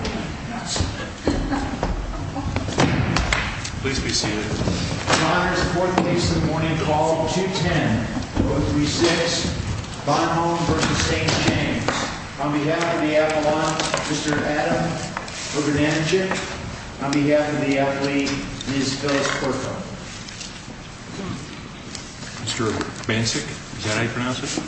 On behalf of the athlete, Ms. Phyllis Perco, Mr. Bancic, is that how you pronounce it?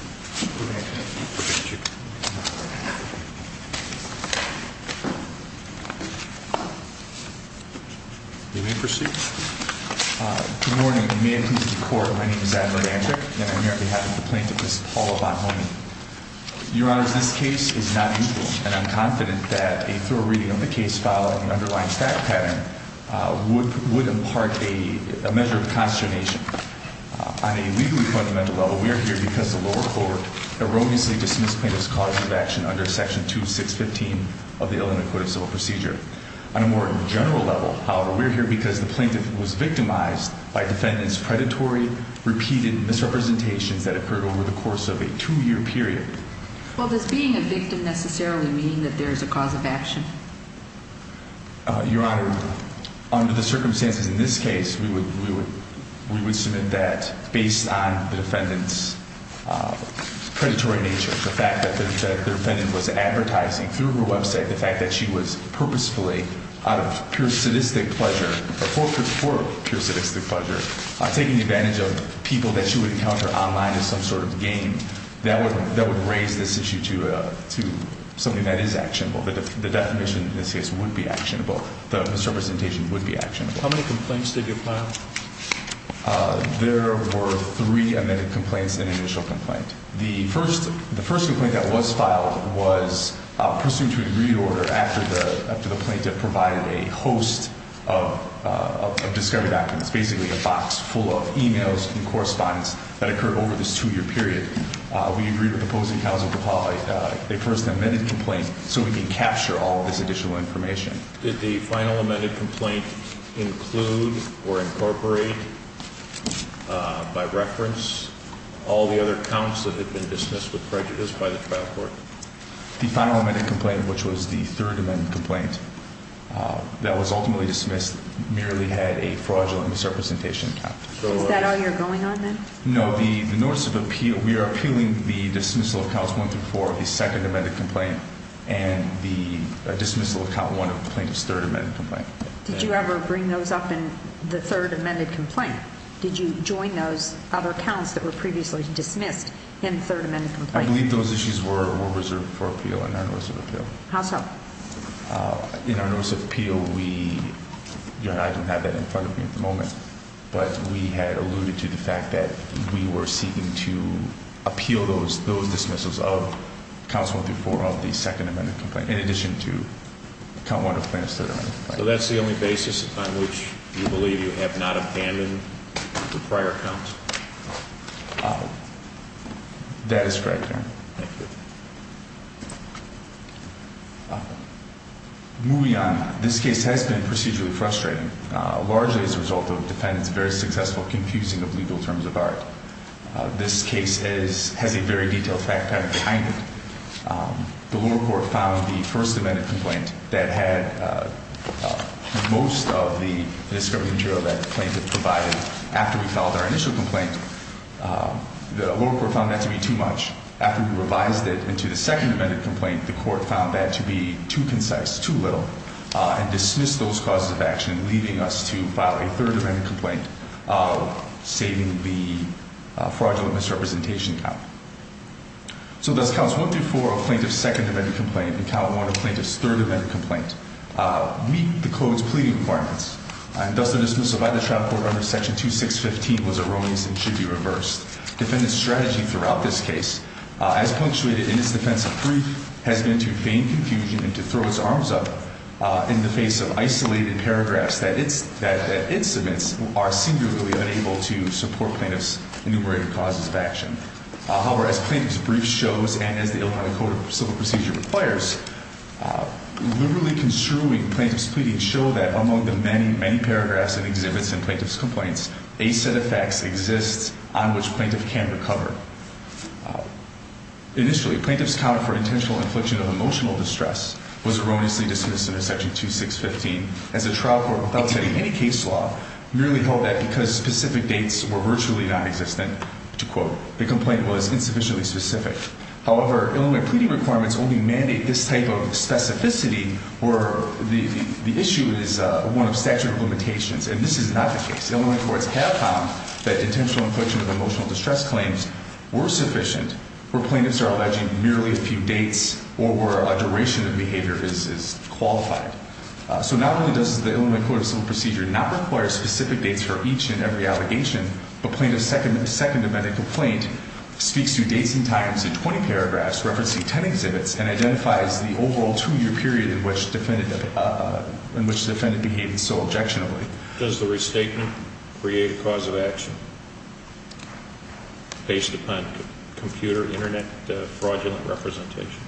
Good morning. May it please the court, my name is Adler Bancic and I'm here on behalf of the plaintiff, Ms. Paula Bonhomme. Your Honor, this case is not neutral and I'm confident that a thorough reading of the case following the underlying fact pattern would impart a measure of consternation. On a legally fundamental level, we are here because the lower court erroneously dismissed plaintiff's cause of action under Section 2615 of the Illinois Code of Civil Procedure. On a more general level, however, we are here because the plaintiff was victimized by defendant's predatory, repeated misrepresentations that occurred over the course of a two-year period. Well, does being a victim necessarily mean that there is a cause of action? Your Honor, under the circumstances in this case, we would submit that based on the defendant's predatory nature, the fact that the defendant was advertising through her website, the fact that she was purposefully, out of pure sadistic pleasure, or for pure sadistic pleasure, taking advantage of people that she would encounter online as some sort of game, that would raise this issue to something that is actionable. The definition in this case would be actionable. The misrepresentation would be actionable. How many complaints did you file? There were three amended complaints and an initial complaint. The first complaint that was filed was pursuant to a degree order after the plaintiff provided a host of discovery documents, basically a box full of e-mails and correspondence that occurred over this two-year period. We agreed with opposing counsel to file a first amended complaint so we can capture all of this additional information. Did the final amended complaint include or incorporate, by reference, all the other counts that had been dismissed with prejudice by the trial court? The final amended complaint, which was the third amended complaint, that was ultimately dismissed merely had a fraudulent misrepresentation count. Is that all you're going on then? No, the notice of appeal, we are appealing the dismissal of counts one through four of the second amended complaint and the dismissal of count one of the plaintiff's third amended complaint. Did you ever bring those up in the third amended complaint? Did you join those other counts that were previously dismissed in the third amended complaint? I believe those issues were reserved for appeal in our notice of appeal. How so? In our notice of appeal, I don't have that in front of me at the moment. But we had alluded to the fact that we were seeking to appeal those dismissals of counts one through four of the second amended complaint in addition to count one of the plaintiff's third amended complaint. So that's the only basis on which you believe you have not abandoned the prior counts? That is correct, Your Honor. Thank you. Moving on, this case has been procedurally frustrating, largely as a result of defendants' very successful confusing of legal terms of art. This case has a very detailed fact pattern behind it. The lower court found the first amended complaint that had most of the discovery material that the plaintiff provided after we filed our initial complaint, the lower court found that to be too much. After we revised it into the second amended complaint, the court found that to be too concise, too little, and dismissed those causes of action, leaving us to file a third amended complaint, saving the fraudulent misrepresentation count. So does counts one through four of plaintiff's second amended complaint and count one of plaintiff's third amended complaint meet the code's pleading requirements? And thus, the dismissal by the trial court under section 2615 was erroneous and should be reversed. Defendant's strategy throughout this case, as punctuated in its defensive brief, has been to feign confusion and to throw its arms up in the face of isolated paragraphs that it submits are singularly unable to support plaintiff's enumerated causes of action. However, as plaintiff's brief shows and as the Illinois Code of Civil Procedure requires, literally construing plaintiff's pleading show that among the many, many paragraphs and exhibits in plaintiff's complaints, a set of facts exists on which plaintiff can recover. Initially, plaintiff's count for intentional infliction of emotional distress was erroneously dismissed under section 2615, as the trial court, without setting any case law, merely held that because specific dates were virtually nonexistent. To quote, the complaint was insufficiently specific. However, Illinois pleading requirements only mandate this type of specificity where the issue is one of statute of limitations. And this is not the case. Illinois courts have found that intentional infliction of emotional distress claims were sufficient where plaintiffs are alleging merely a few dates or where a duration of behavior is qualified. So not only does the Illinois Code of Civil Procedure not require specific dates for each and every allegation, but plaintiff's second amendment complaint speaks to dates and times in 20 paragraphs referencing 10 exhibits and identifies the overall two-year period in which defendant behaved so objectionably. Does the restatement create a cause of action based upon computer internet fraudulent representation?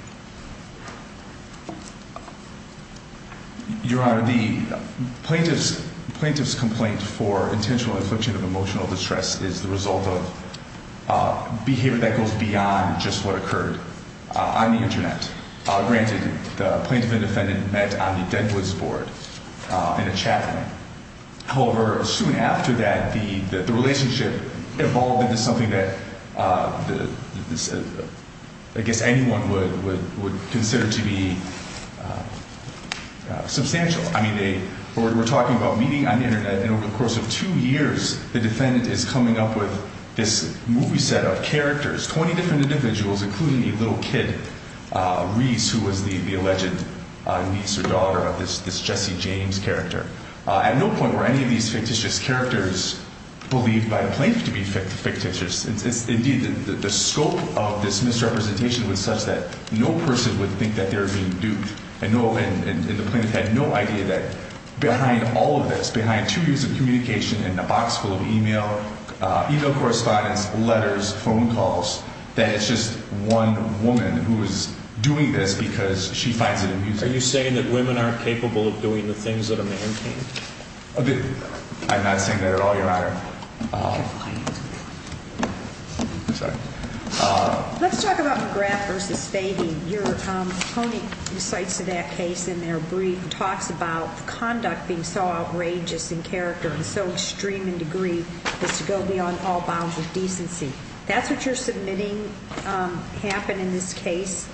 Your Honor, the plaintiff's complaint for intentional infliction of emotional distress is the result of behavior that goes beyond just what occurred on the internet. Granted, the plaintiff and defendant met on the Deadwoods board in a chat room. However, soon after that, the relationship evolved into something that I guess anyone would consider to be substantial. I mean, they were talking about meeting on the internet, and over the course of two years, the defendant is coming up with this movie set of characters, 20 different individuals, including a little kid, Reese, who was the alleged niece or daughter of this Jesse James character. At no point were any of these fictitious characters believed by the plaintiff to be fictitious. Indeed, the scope of this misrepresentation was such that no person would think that they were being duped, and the plaintiff had no idea that behind all of this, behind two years of communication and a box full of e-mail correspondence, letters, phone calls, that it's just one woman who is doing this because she finds it amusing. Are you saying that women aren't capable of doing the things that a man can? I'm not saying that at all, Your Honor. I'm sorry. Let's talk about McGrath v. Fahey. Tony cites that case in their brief and talks about conduct being so outrageous in character and so extreme in degree as to go beyond all bounds of decency. That's what you're submitting happened in this case,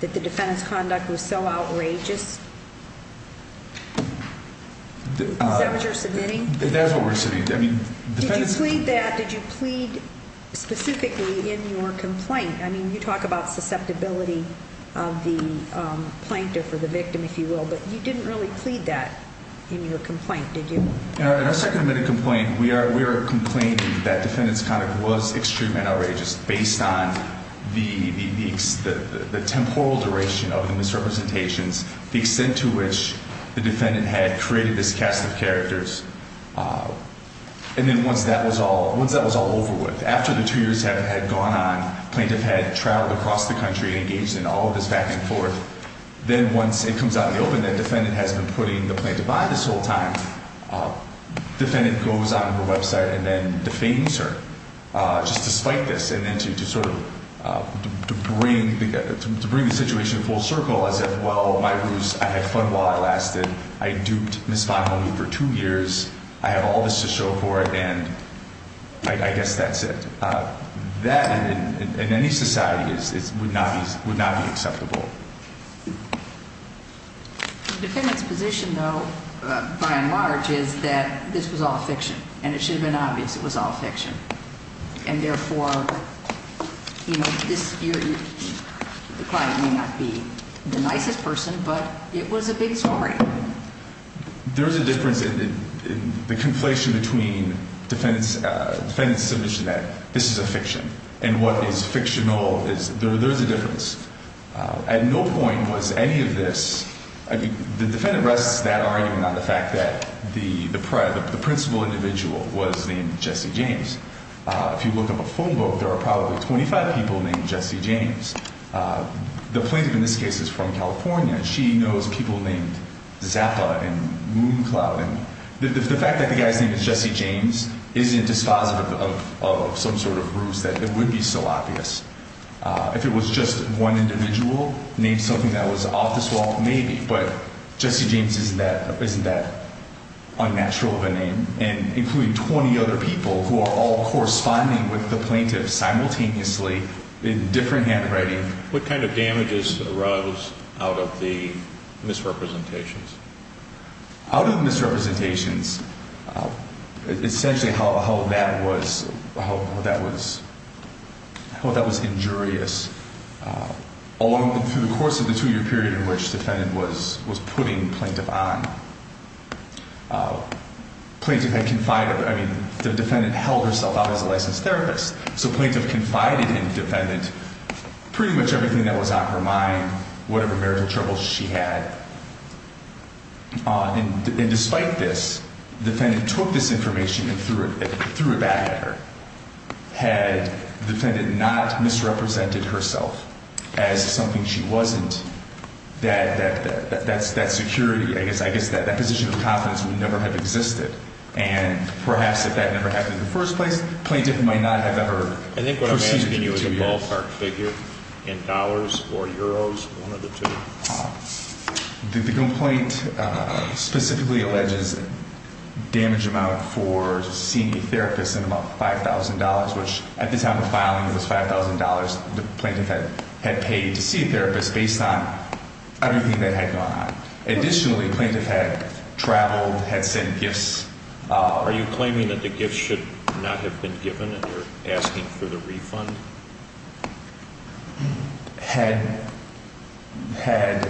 that the defendant's conduct was so outrageous? Is that what you're submitting? That's what we're submitting. Did you plead that? Did you plead specifically in your complaint? I mean, you talk about susceptibility of the plaintiff or the victim, if you will, but you didn't really plead that in your complaint, did you? In our second admitted complaint, we are complaining that defendant's conduct was extreme and outrageous based on the temporal duration of the misrepresentations, the extent to which the defendant had created this cast of characters, and then once that was all over with, after the two years had gone on, the plaintiff had traveled across the country and engaged in all of this back and forth. Then once it comes out in the open that defendant has been putting the plaintiff on this whole time, defendant goes on her website and then defames her just to spite this and then to sort of bring the situation full circle as if, well, my ruse, I had fun while I lasted. I duped Ms. Fahey for two years. I had all this to show for it, and I guess that's it. That, in any society, would not be acceptable. The defendant's position, though, by and large, is that this was all fiction, and it should have been obvious it was all fiction, and therefore the client may not be the nicest person, but it was a big story. There is a difference in the conflation between defendant's submission that this is a fiction and what is fictional. There is a difference. At no point was any of this, I mean, the defendant rests that argument on the fact that the principal individual was named Jesse James. If you look up a phone book, there are probably 25 people named Jesse James. The plaintiff in this case is from California. She knows people named Zappa and Mooncloud. The fact that the guy's name is Jesse James isn't dispositive of some sort of ruse that it would be so obvious. If it was just one individual named something that was off this wall, maybe, but Jesse James isn't that unnatural of a name, and including 20 other people who are all corresponding with the plaintiff simultaneously in different handwriting. And what kind of damages arose out of the misrepresentations? Out of the misrepresentations, essentially how that was injurious, all through the course of the two-year period in which the defendant was putting the plaintiff on. The defendant held herself out as a licensed therapist, so the plaintiff confided in the defendant pretty much everything that was on her mind, whatever marital troubles she had. And despite this, the defendant took this information and threw it back at her. Had the defendant not misrepresented herself as something she wasn't, that security, I guess that position of confidence would never have existed. And perhaps if that never happened in the first place, the plaintiff might not have ever proceeded in two years. I think what I'm asking you is the ballpark figure in dollars or euros, one of the two. The complaint specifically alleges damage amount for seeing a therapist in about $5,000, which at the time of filing it was $5,000 the plaintiff had paid to see a therapist based on everything that had gone on. Additionally, the plaintiff had traveled, had sent gifts. Are you claiming that the gifts should not have been given and you're asking for the refund? Had the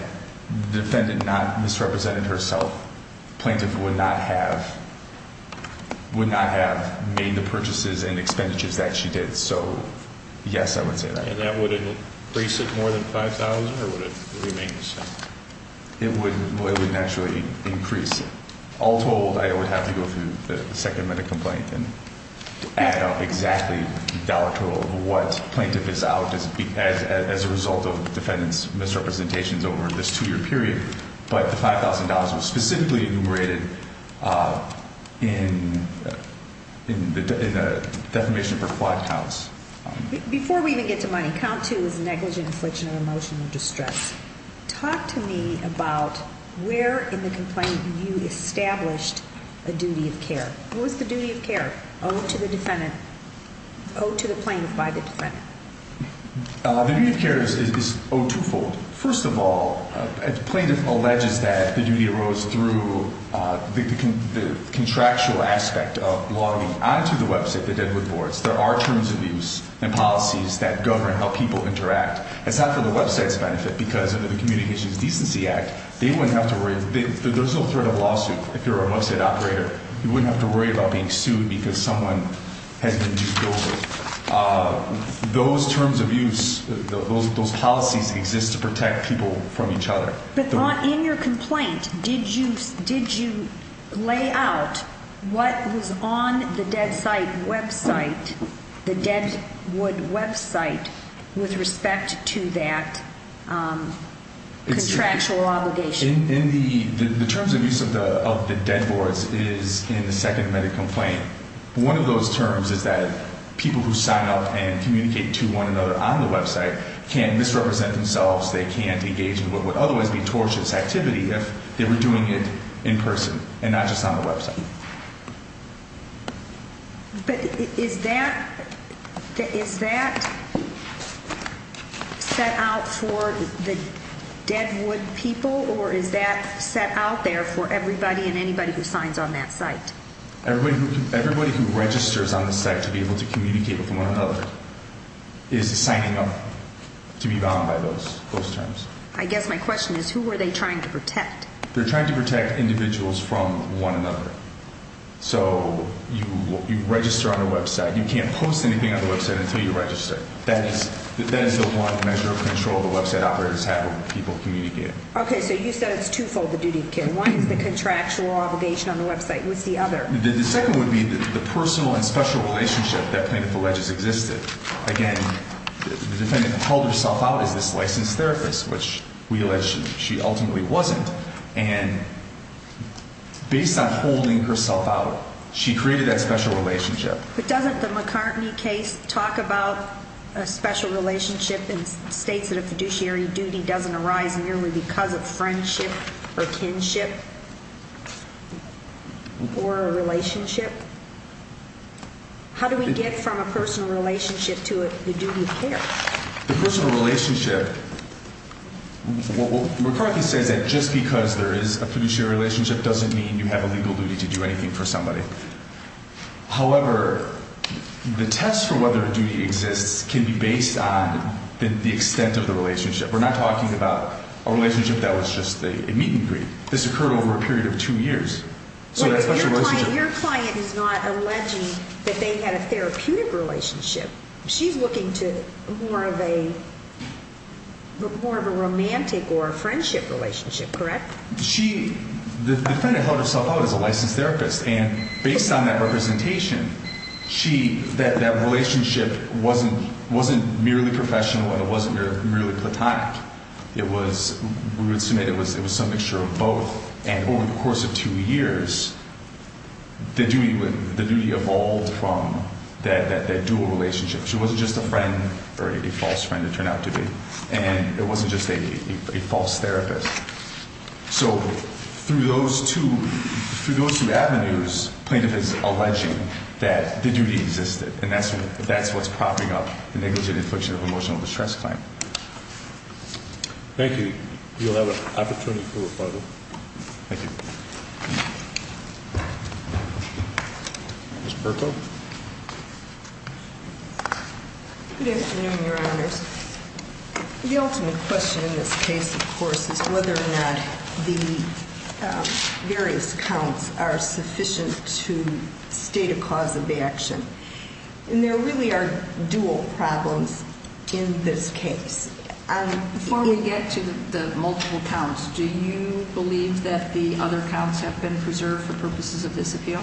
defendant not misrepresented herself, the plaintiff would not have made the purchases and expenditures that she did. So yes, I would say that. And that would increase it more than $5,000 or would it remain the same? It would naturally increase. All told, I would have to go through the second minute complaint and add up exactly the dollar total of what plaintiff is out as a result of defendant's misrepresentations over this two year period. But the $5,000 was specifically enumerated in the defamation for fraud counts. Before we even get to money, count two is negligent infliction of emotional distress. Talk to me about where in the complaint you established a duty of care. What was the duty of care owed to the defendant, owed to the plaintiff by the defendant? The duty of care is owed twofold. First of all, the plaintiff alleges that the duty arose through the contractual aspect of logging onto the website, the Deadwood boards. There are terms of use and policies that govern how people interact. It's not for the website's benefit because under the Communications Decency Act, there's no threat of lawsuit if you're a website operator. You wouldn't have to worry about being sued because someone has been used illegally. Those terms of use, those policies exist to protect people from each other. But in your complaint, did you lay out what was on the Deadwood website with respect to that contractual obligation? The terms of use of the Deadwoods is in the second amendment complaint. One of those terms is that people who sign up and communicate to one another on the website can't misrepresent themselves, they can't engage in what would otherwise be tortious activity if they were doing it in person and not just on the website. But is that set out for the Deadwood people or is that set out there for everybody and anybody who signs on that site? Everybody who registers on the site to be able to communicate with one another is signing up to be bound by those terms. I guess my question is who are they trying to protect? They're trying to protect individuals from one another. So you register on a website, you can't post anything on the website until you register. That is the one measure of control the website operators have when people communicate. Okay, so you said it's twofold the duty of care. One is the contractual obligation on the website. What's the other? The second would be the personal and special relationship that plaintiff alleges existed. Again, the defendant called herself out as this licensed therapist, which we allege she ultimately wasn't. And based on holding herself out, she created that special relationship. But doesn't the McCartney case talk about a special relationship and states that a fiduciary duty doesn't arise merely because of friendship or kinship or a relationship? How do we get from a personal relationship to a duty of care? The personal relationship, McCartney says that just because there is a fiduciary relationship doesn't mean you have a legal duty to do anything for somebody. However, the test for whether a duty exists can be based on the extent of the relationship. We're not talking about a relationship that was just a meet-and-greet. This occurred over a period of two years. Your client is not alleging that they had a therapeutic relationship. She's looking to more of a romantic or a friendship relationship, correct? The defendant held herself out as a licensed therapist, and based on that representation, that relationship wasn't merely professional and it wasn't merely platonic. We would submit it was some mixture of both. And over the course of two years, the duty evolved from that dual relationship. She wasn't just a friend or a false friend, it turned out to be. And it wasn't just a false therapist. So through those two avenues, plaintiff is alleging that the duty existed, and that's what's propping up the negligent infliction of emotional distress claim. Thank you. You'll have an opportunity for a photo. Thank you. Ms. Burko? Good afternoon, Your Honors. The ultimate question in this case, of course, is whether or not the various counts are sufficient to state a cause of action. And there really are dual problems in this case. Before we get to the multiple counts, do you believe that the other counts have been preserved for purposes of this appeal?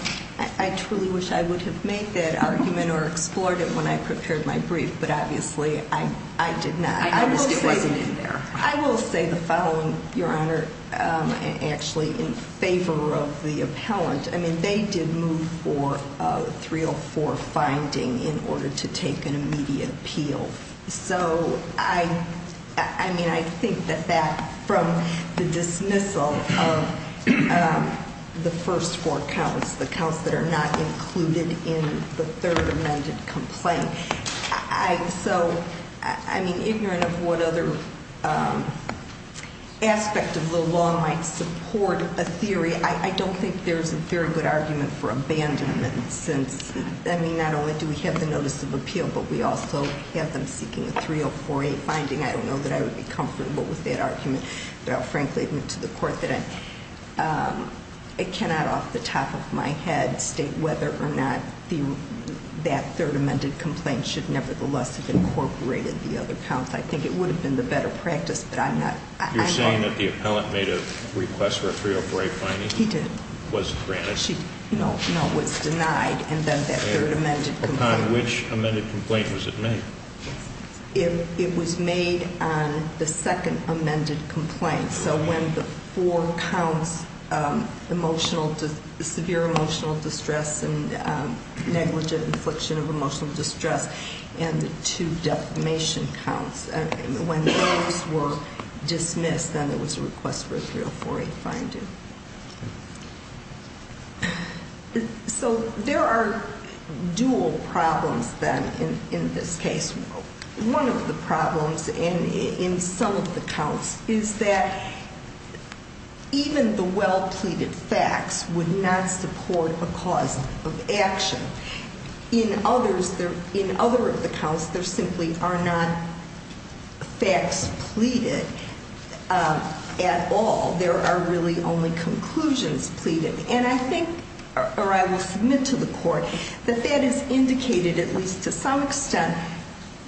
I truly wish I would have made that argument or explored it when I prepared my brief, but obviously I did not. I understand it wasn't in there. I will say the following, Your Honor, actually in favor of the appellant. I mean, they did move for a 304 finding in order to take an immediate appeal. So, I mean, I think that that, from the dismissal of the first four counts, the counts that are not included in the third amended complaint. So, I mean, ignorant of what other aspect of the law might support a theory, I don't think there's a very good argument for abandonment. Since, I mean, not only do we have the notice of appeal, but we also have them seeking a 304A finding. I don't know that I would be comfortable with that argument. But I'll frankly admit to the court that I cannot, off the top of my head, state whether or not that third amended complaint should nevertheless have incorporated the other counts. I think it would have been the better practice, but I'm not. You're saying that the appellant made a request for a 304A finding? He did. Was it granted? No, it was denied. And then that third amended complaint. Upon which amended complaint was it made? It was made on the second amended complaint. So when the four counts, severe emotional distress and negligent infliction of emotional distress, and the two defamation counts. When those were dismissed, then it was a request for a 304A finding. So there are dual problems then in this case. One of the problems in some of the counts is that even the well-pleaded facts would not support a cause of action. In others, in other of the counts, there simply are not facts pleaded at all. There are really only conclusions pleaded. And I think, or I will submit to the court, that that is indicated at least to some extent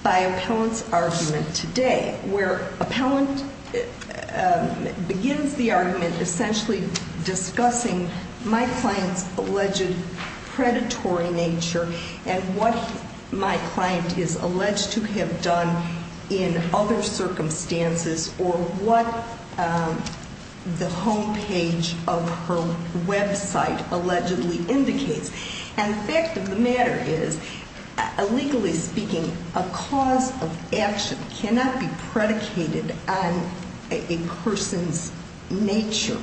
by appellant's argument today, where appellant begins the argument essentially discussing my client's alleged predatory nature and what my client is alleged to have done in other circumstances or what the homepage of her website allegedly indicates. And the fact of the matter is, legally speaking, a cause of action cannot be predicated on a person's nature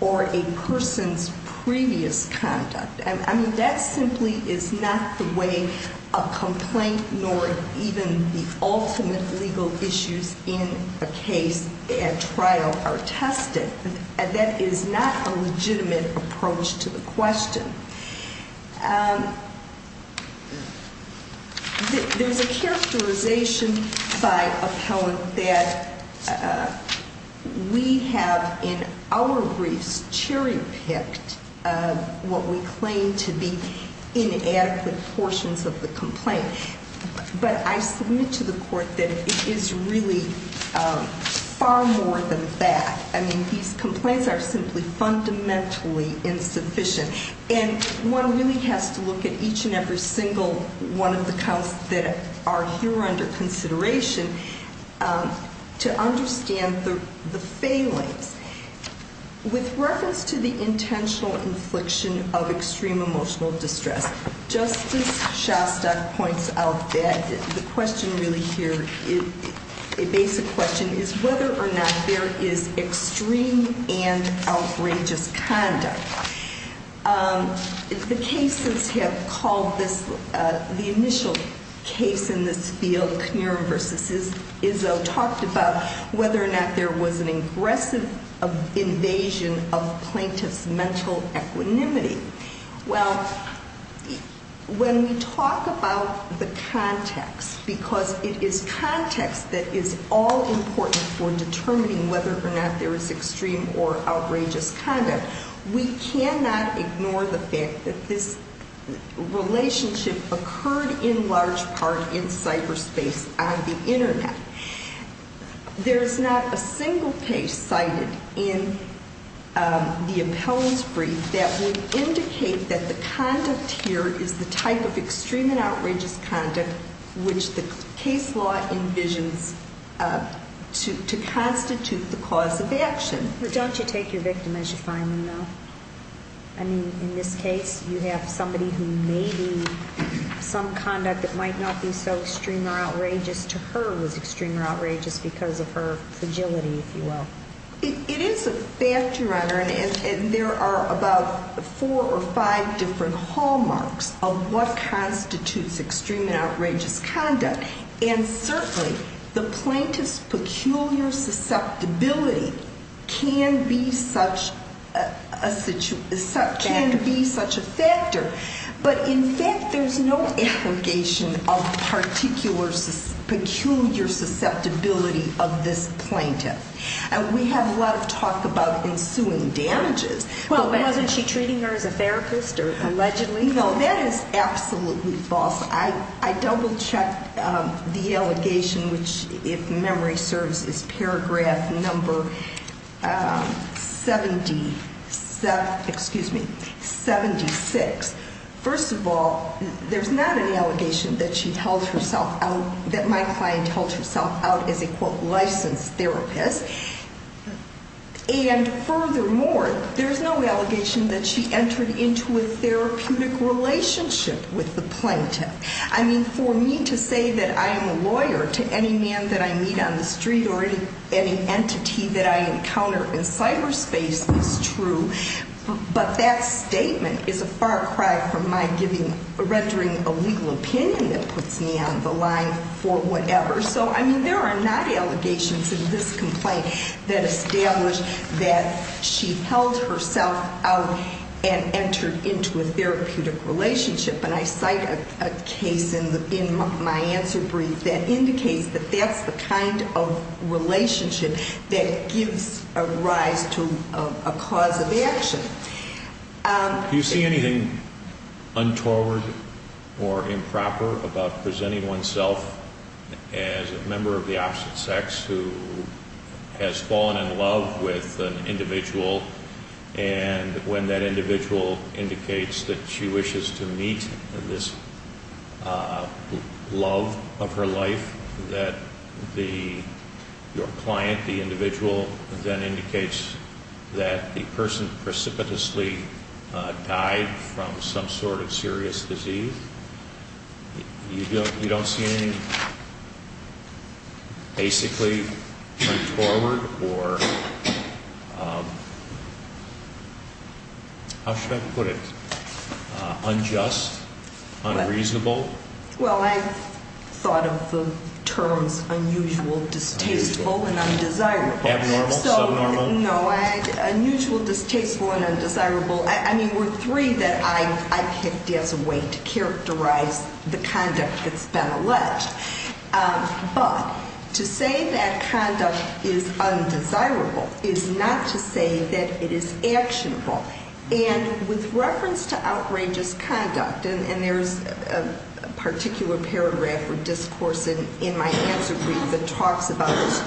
or a person's previous conduct. I mean, that simply is not the way a complaint nor even the ultimate legal issues in a case at trial are tested. That is not a legitimate approach to the question. There's a characterization by appellant that we have, in our briefs, stereotyped what we claim to be inadequate portions of the complaint. But I submit to the court that it is really far more than that. I mean, these complaints are simply fundamentally insufficient. And one really has to look at each and every single one of the counts that are here under consideration to understand the failings. With reference to the intentional infliction of extreme emotional distress, Justice Shostak points out that the question really here, a basic question, is whether or not there is extreme and outrageous conduct. The cases have called this, the initial case in this field, Knierim v. Izzo, talked about whether or not there was an aggressive invasion of plaintiff's mental equanimity. Well, when we talk about the context, because it is context that is all important for determining whether or not there is extreme or outrageous conduct, we cannot ignore the fact that this relationship occurred in large part in cyberspace on the Internet. There is not a single case cited in the appellant's brief that would indicate that the conduct here is the type of extreme and outrageous conduct which the case law envisions to constitute the cause of action. Don't you take your victim as you find them, though? I mean, in this case, you have somebody who maybe some conduct that might not be so extreme or outrageous to her was extreme or outrageous because of her fragility, if you will. It is a fact, Your Honor, and there are about four or five different hallmarks of what constitutes extreme and outrageous conduct. And certainly, the plaintiff's peculiar susceptibility can be such a factor, but in fact there is no allegation of peculiar susceptibility of this plaintiff. We have a lot of talk about ensuing damages. But wasn't she treating her as a therapist or allegedly? No, that is absolutely false. I double-checked the allegation, which if memory serves, is paragraph number 76. First of all, there's not an allegation that she held herself out, that my client held herself out as a, quote, licensed therapist. And furthermore, there's no allegation that she entered into a therapeutic relationship with the plaintiff. I mean, for me to say that I am a lawyer to any man that I meet on the street or any entity that I encounter in cyberspace is true, but that statement is a far cry from my rendering a legal opinion that puts me on the line for whatever. So, I mean, there are not allegations in this complaint that establish that she held herself out and entered into a therapeutic relationship. And I cite a case in my answer brief that indicates that that's the kind of relationship that gives a rise to a cause of action. Do you see anything untoward or improper about presenting oneself as a member of the opposite sex who has fallen in love with an individual, and when that individual indicates that she wishes to meet this love of her life, that your client, the individual, then indicates that the person precipitously died from some sort of serious disease? You don't see anything basically untoward or, how should I put it, unjust, unreasonable? Well, I've thought of the terms unusual, distasteful, and undesirable. Abnormal, subnormal? No, unusual, distasteful, and undesirable. I mean, there were three that I picked as a way to characterize the conduct that's been alleged. But to say that conduct is undesirable is not to say that it is actionable. And with reference to outrageous conduct, and there's a particular paragraph or discourse in my answer brief that talks about this,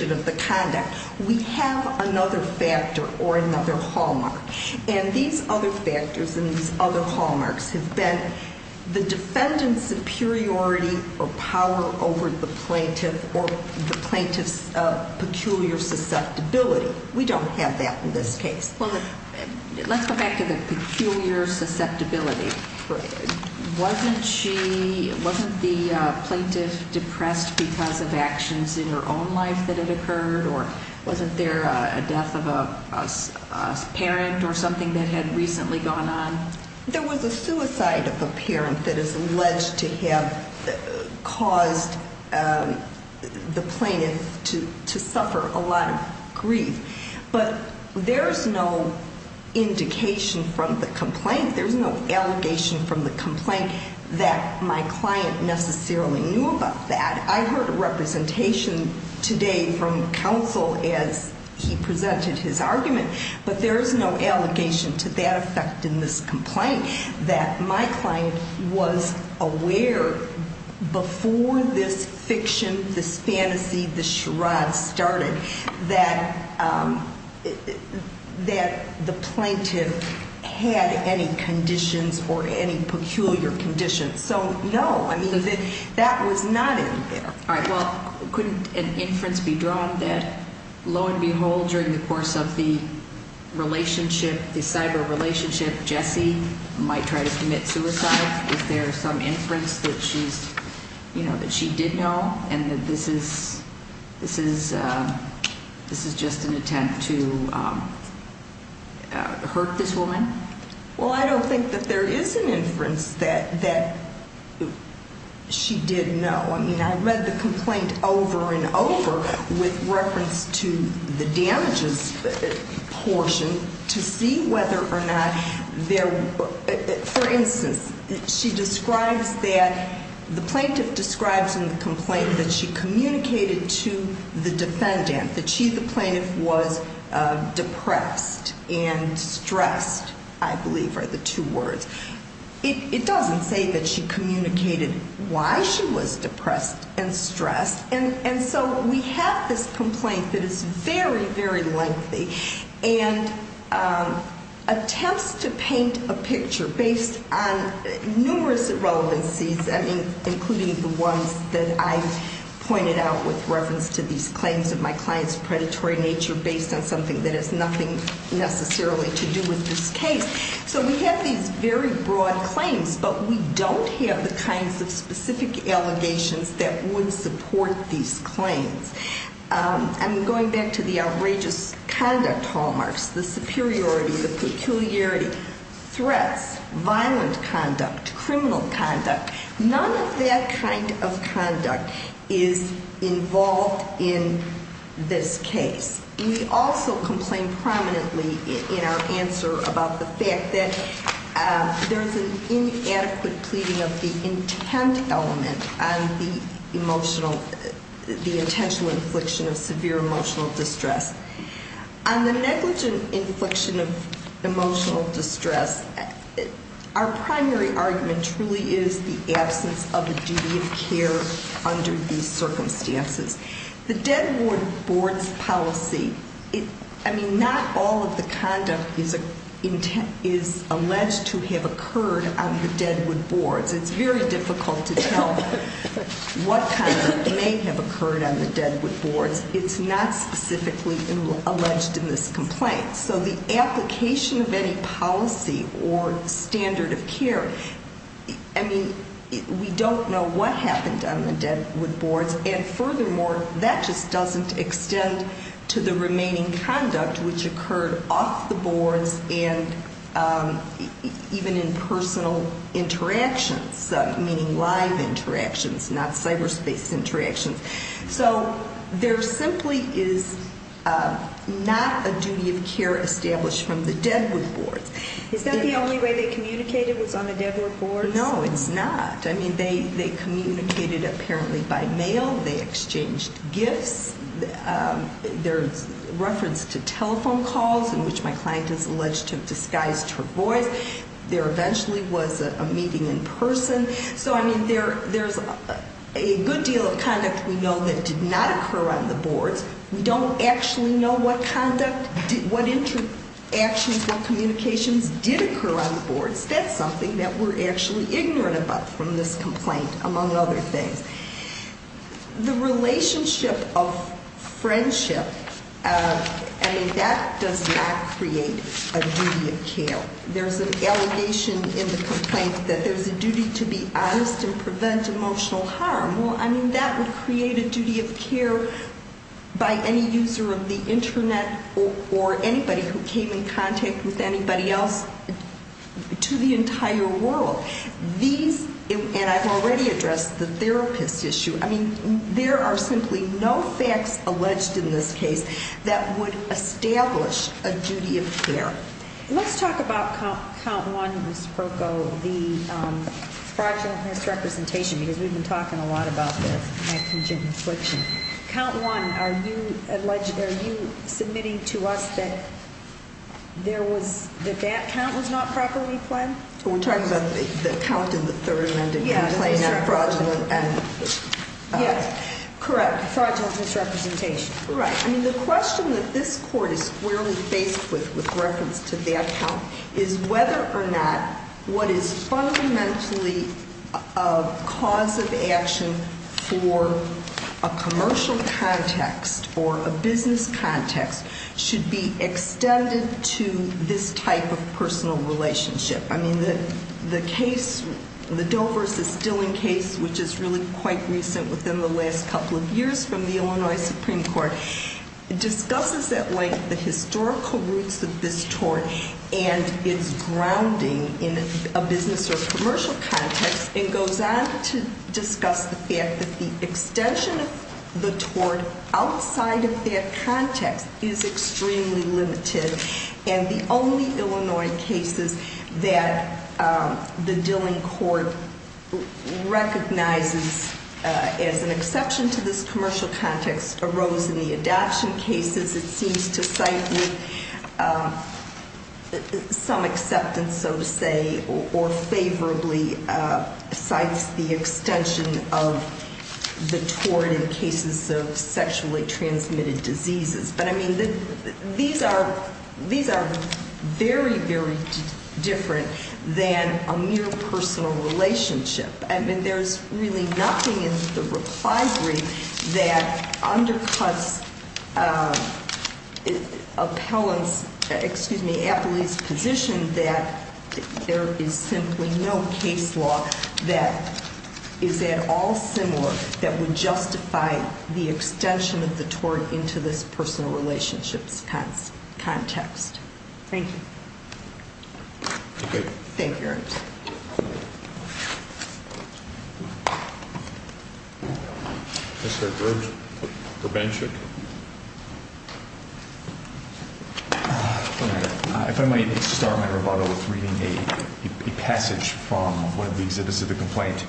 of the conduct, we have another factor or another hallmark. And these other factors and these other hallmarks have been the defendant's superiority or power over the plaintiff or the plaintiff's peculiar susceptibility. We don't have that in this case. Well, let's go back to the peculiar susceptibility. Wasn't she, wasn't the plaintiff depressed because of actions in her own life that had occurred, or wasn't there a death of a parent or something that had recently gone on? There was a suicide of a parent that is alleged to have caused the plaintiff to suffer a lot of grief. But there's no indication from the complaint, there's no allegation from the complaint, that my client necessarily knew about that. I heard a representation today from counsel as he presented his argument, but there is no allegation to that effect in this complaint, that my client was aware before this fiction, this fantasy, this charade started, that the plaintiff had any conditions or any peculiar conditions. So, no, I mean, that was not in there. All right. Well, couldn't an inference be drawn that, lo and behold, during the course of the relationship, the cyber relationship, Jessie might try to commit suicide? Is there some inference that she's, you know, that she did know, and that this is just an attempt to hurt this woman? Well, I don't think that there is an inference that she did know. I mean, I read the complaint over and over with reference to the damages portion to see whether or not there were, for instance, she describes that the plaintiff describes in the complaint that she communicated to the defendant, that she, the plaintiff, was depressed and stressed, I believe are the two words. It doesn't say that she communicated why she was depressed and stressed, and so we have this complaint that is very, very lengthy and attempts to paint a picture based on numerous irrelevancies, including the ones that I've pointed out with reference to these claims of my client's predatory nature based on something that has nothing necessarily to do with this case. So we have these very broad claims, but we don't have the kinds of specific allegations that would support these claims. I'm going back to the outrageous conduct hallmarks, the superiority, the peculiarity, threats, violent conduct, criminal conduct. None of that kind of conduct is involved in this case. We also complain prominently in our answer about the fact that there's an inadequate pleading of the intent element on the emotional, the intentional infliction of severe emotional distress. On the negligent infliction of emotional distress, our primary argument truly is the absence of a duty of care under these circumstances. The Deadwood board's policy, I mean, not all of the conduct is alleged to have occurred on the Deadwood boards. It's very difficult to tell what kind of may have occurred on the Deadwood boards. It's not specifically alleged in this complaint. So the application of any policy or standard of care, I mean, we don't know what happened on the Deadwood boards. And furthermore, that just doesn't extend to the remaining conduct which occurred off the boards and even in personal interactions, meaning live interactions, not cyberspace interactions. So there simply is not a duty of care established from the Deadwood boards. Is that the only way they communicated was on the Deadwood boards? No, it's not. I mean, they communicated apparently by mail. They exchanged gifts. There's reference to telephone calls in which my client is alleged to have disguised her voice. There eventually was a meeting in person. So, I mean, there's a good deal of conduct we know that did not occur on the boards. We don't actually know what conduct, what interactions, what communications did occur on the boards. That's something that we're actually ignorant about from this complaint, among other things. The relationship of friendship, I mean, that does not create a duty of care. There's an allegation in the complaint that there's a duty to be honest and prevent emotional harm. Well, I mean, that would create a duty of care by any user of the Internet or anybody who came in contact with anybody else to the entire world. These, and I've already addressed the therapist issue. I mean, there are simply no facts alleged in this case that would establish a duty of care. Let's talk about count one, Ms. Proko, the fraudulent misrepresentation, because we've been talking a lot about this. Count one, are you submitting to us that there was, that that count was not properly planned? We're talking about the count in the third amendment? Yes. Fraudulent misrepresentation. Yes, correct. Fraudulent misrepresentation. Right. I mean, the question that this court is squarely faced with, with reference to that count, is whether or not what is fundamentally a cause of action for a commercial context or a business context should be extended to this type of personal relationship. I mean, the case, the Dover v. Stilling case, which is really quite recent within the last couple of years from the Illinois Supreme Court, discusses at length the historical roots of this tort and its grounding in a business or commercial context, and goes on to discuss the fact that the extension of the tort outside of that context is extremely limited. And the only Illinois cases that the Dilling court recognizes as an exception to this commercial context arose in the adoption cases it seems to cite with some acceptance, so to say, or favorably cites the extension of the tort in cases of sexually transmitted diseases. But, I mean, these are very, very different than a mere personal relationship. I mean, there's really nothing in the reply brief that undercuts appellant's, excuse me, appellee's position that there is simply no case law that is at all similar that would justify the extension of the tort into this personal relationships context. Thank you. Okay. Thank you, Your Honor. Mr. Groves, prevention. If I might start my rebuttal with reading a passage from one of the exhibits of the complaint.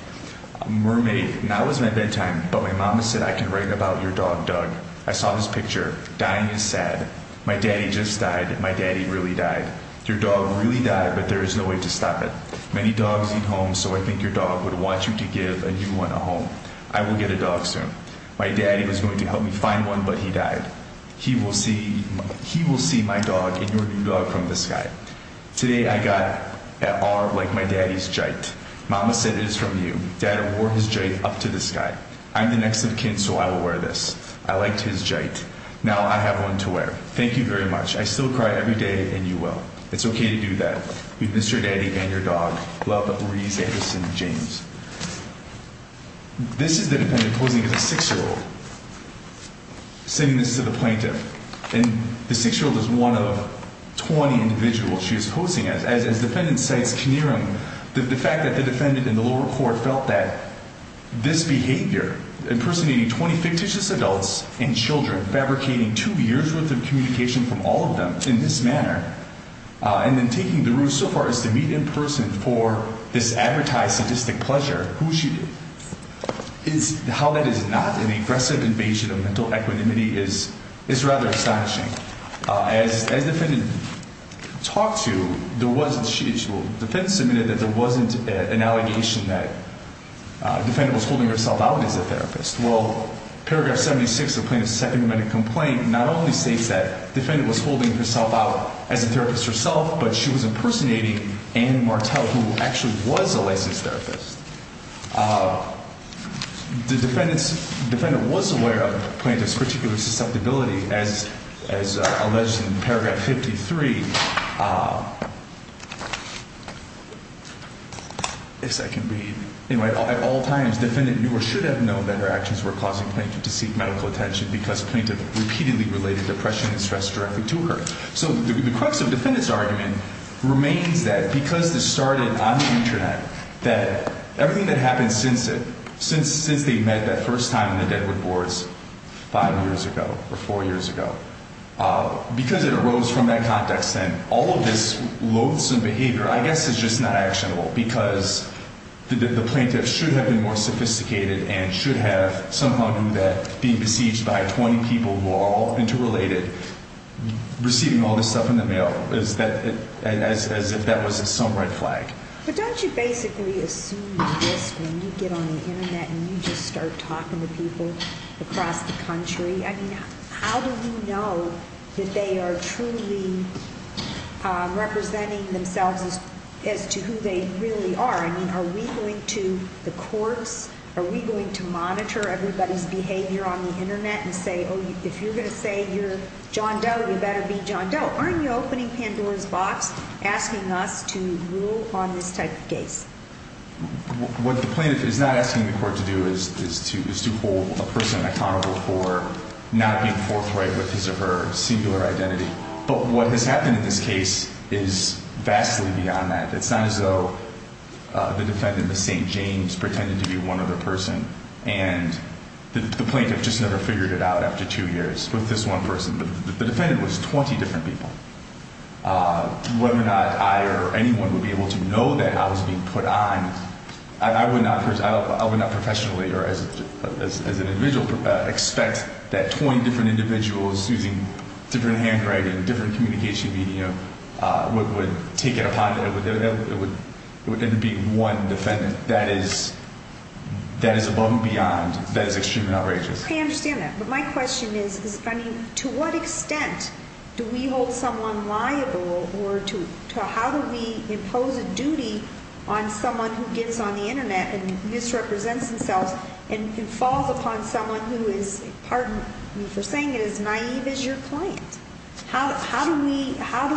Mermaid, now is my bedtime, but my mama said I can write about your dog, Doug. I saw his picture. Dying is sad. My daddy just died. My daddy really died. Your dog really died, but there is no way to stop it. Many dogs eat home, so I think your dog would want you to give a new one a home. I will get a dog soon. My daddy was going to help me find one, but he died. He will see my dog and your new dog from the sky. Today I got an R like my daddy's gite. Mama said it is from you. Daddy wore his gite up to the sky. I'm the next of kin, so I will wear this. I liked his gite. Now I have one to wear. Thank you very much. I still cry every day, and you will. It's okay to do that. We miss your daddy and your dog. Love, Maurice Anderson James. This is the defendant posing as a six-year-old, saying this to the plaintiff. And the six-year-old is one of 20 individuals she is posing as. As the defendant cites Knierim, the fact that the defendant in the lower court felt that this behavior, impersonating 20 fictitious adults and children, fabricating two years' worth of communication from all of them in this manner, and then taking the route so far as to meet in person for this advertised sadistic pleasure, how that is not an aggressive invasion of mental equanimity is rather astonishing. As the defendant talked to, the defendant submitted that there wasn't an allegation that the defendant was holding herself out as a therapist. Well, paragraph 76 of the plaintiff's second amendment complaint not only states that the defendant was holding herself out as a therapist herself, but she was impersonating Anne Martell, who actually was a licensed therapist. The defendant was aware of the plaintiff's particular susceptibility, as alleged in paragraph 53. Yes, I can read. At all times, the defendant knew or should have known that her actions were causing the plaintiff to seek medical attention because the plaintiff repeatedly related depression and stress directly to her. So the crux of the defendant's argument remains that because this started on the Internet, that everything that happened since they met that first time in the Deadwood Boards five years ago or four years ago, because it arose from that context then, all of this loathsome behavior I guess is just not actionable because the plaintiff should have been more sophisticated and should have somehow knew that being besieged by 20 people who are all interrelated, receiving all this stuff in the mail, as if that was some red flag. But don't you basically assume the risk when you get on the Internet and you just start talking to people across the country? I mean, how do you know that they are truly representing themselves as to who they really are? I mean, are we going to the courts? Are we going to monitor everybody's behavior on the Internet and say, oh, if you're going to say you're John Doe, you better be John Doe? Or are you opening Pandora's box, asking us to rule on this type of case? What the plaintiff is not asking the court to do is to hold a person accountable for not being forthright with his or her singular identity. But what has happened in this case is vastly beyond that. It's not as though the defendant, the same James, pretended to be one other person, and the plaintiff just never figured it out after two years with this one person. The defendant was 20 different people. Whether or not I or anyone would be able to know that I was being put on, I would not professionally or as an individual expect that 20 different individuals using different handwriting, different communication media would take it upon them to be one defendant. That is above and beyond. That is extremely outrageous. I understand that. But my question is, to what extent do we hold someone liable, or how do we impose a duty on someone who gets on the Internet and misrepresents themselves and falls upon someone who is, pardon me for saying it, as naive as your client? How do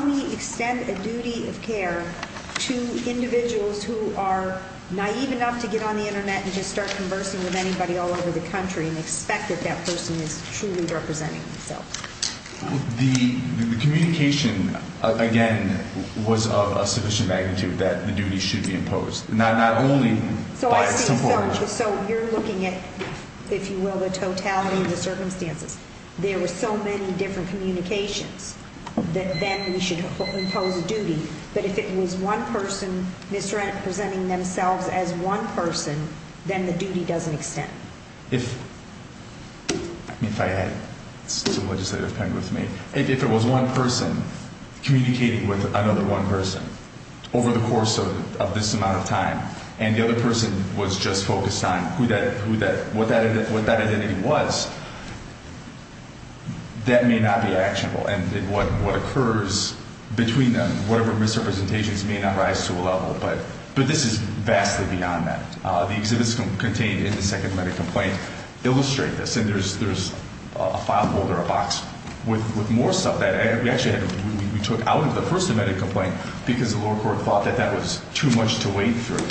we extend a duty of care to individuals who are naive enough to get on the Internet and just start conversing with anybody all over the country and expect that that person is truly representing themselves? The communication, again, was of a sufficient magnitude that the duty should be imposed. Not only by a simple order. So you're looking at, if you will, the totality of the circumstances. There were so many different communications that then we should impose a duty. But if it was one person misrepresenting themselves as one person, then the duty doesn't extend. If I had a legislative pen with me, if it was one person communicating with another one person over the course of this amount of time and the other person was just focused on what that identity was, that may not be actionable. And what occurs between them, whatever misrepresentations may not rise to a level. But this is vastly beyond that. The exhibits contained in the second medical complaint illustrate this. And there's a file holder, a box with more stuff that we actually took out of the first medical complaint because the lower court thought that that was too much to wade through.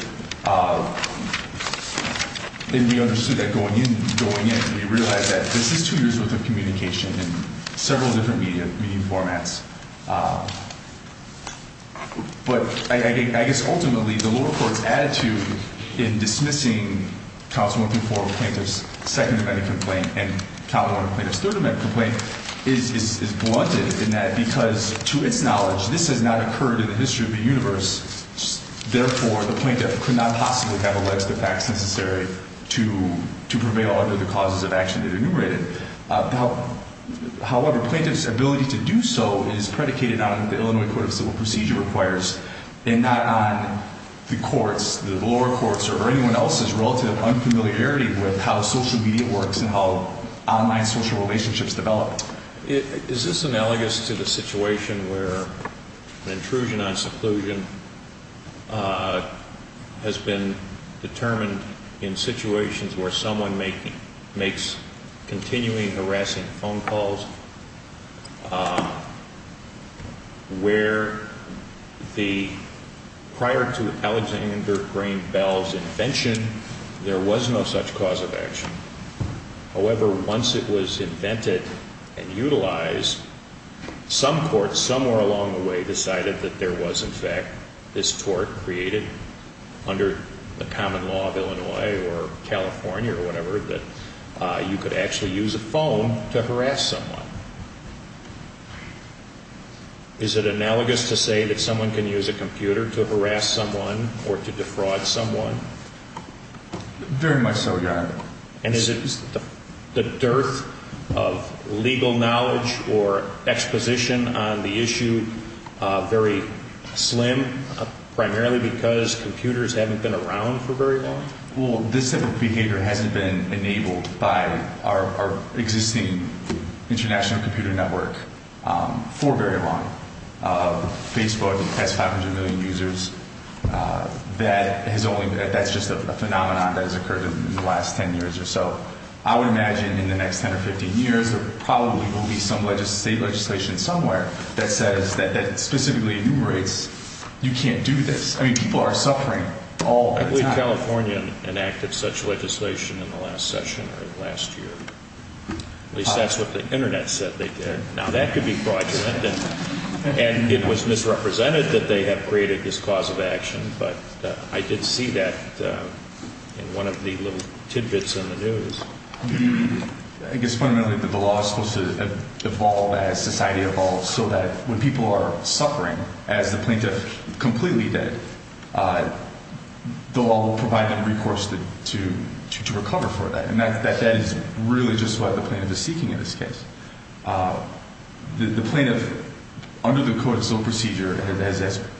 And we understood that going in, going in, we realized that this is two years worth of communication in several different media formats. But I guess ultimately, the lower court's attitude in dismissing counts one through four of the plaintiff's second medical complaint and count one of the plaintiff's third medical complaint is blunted in that because to its knowledge, this has not occurred in the history of the universe. Therefore, the plaintiff could not possibly have alleged the facts necessary to prevail under the causes of action that enumerated. However, plaintiff's ability to do so is predicated on the Illinois Court of Civil Procedure requires and not on the courts, the lower courts, or anyone else's relative unfamiliarity with how social media works and how online social relationships develop. Is this analogous to the situation where an intrusion on seclusion has been determined in situations where someone makes continuing harassing phone calls, where the prior to Alexander Graham Bell's invention, there was no such cause of action. However, once it was invented and utilized, some courts somewhere along the way decided that there was, in fact, this tort created under the common law of Illinois or California or whatever, that you could actually use a phone to harass someone. Is it analogous to say that someone can use a computer to harass someone or to defraud someone? Very much so, Your Honor. And is the dearth of legal knowledge or exposition on the issue very slim, primarily because computers haven't been around for very long? Well, this type of behavior hasn't been enabled by our existing international computer network for very long. Facebook has 500 million users. That's just a phenomenon that has occurred in the last 10 years or so. I would imagine in the next 10 or 15 years there probably will be some state legislation somewhere that specifically enumerates you can't do this. I mean, people are suffering all the time. I believe California enacted such legislation in the last session or last year. At least that's what the Internet said they did. Now, that could be fraudulent, and it was misrepresented that they have created this cause of action, but I did see that in one of the little tidbits in the news. I guess fundamentally the law is supposed to evolve as society evolves so that when people are suffering, as the plaintiff, completely dead, the law will provide them recourse to recover for that, and that is really just what the plaintiff is seeking in this case. The plaintiff, under the Code of Civil Procedure,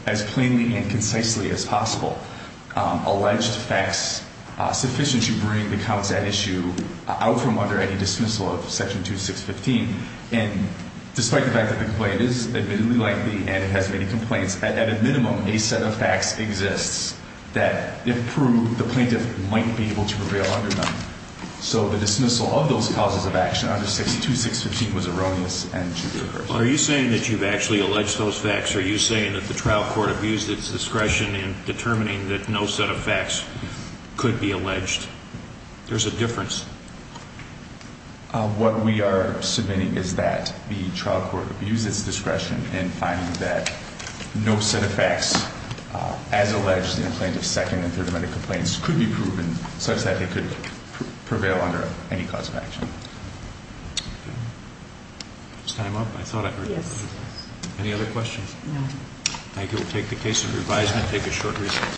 as plainly and concisely as possible, alleged facts sufficient to bring the counts at issue out from under any dismissal of Section 2615, and despite the fact that the complaint is admittedly likely and it has many complaints, at a minimum a set of facts exists that, if proved, the plaintiff might be able to prevail under them. So the dismissal of those causes of action under Section 2615 was erroneous and should be reversed. Are you saying that you've actually alleged those facts? Are you saying that the trial court abused its discretion in determining that no set of facts could be alleged? There's a difference. What we are submitting is that the trial court abused its discretion in finding that no set of facts, as alleged in the plaintiff's second and third amendment complaints, could be proven such that they could prevail under any cause of action. Is time up? I thought I heard you. Yes. Any other questions? No. Thank you. We'll take the case in revision and take a short recess.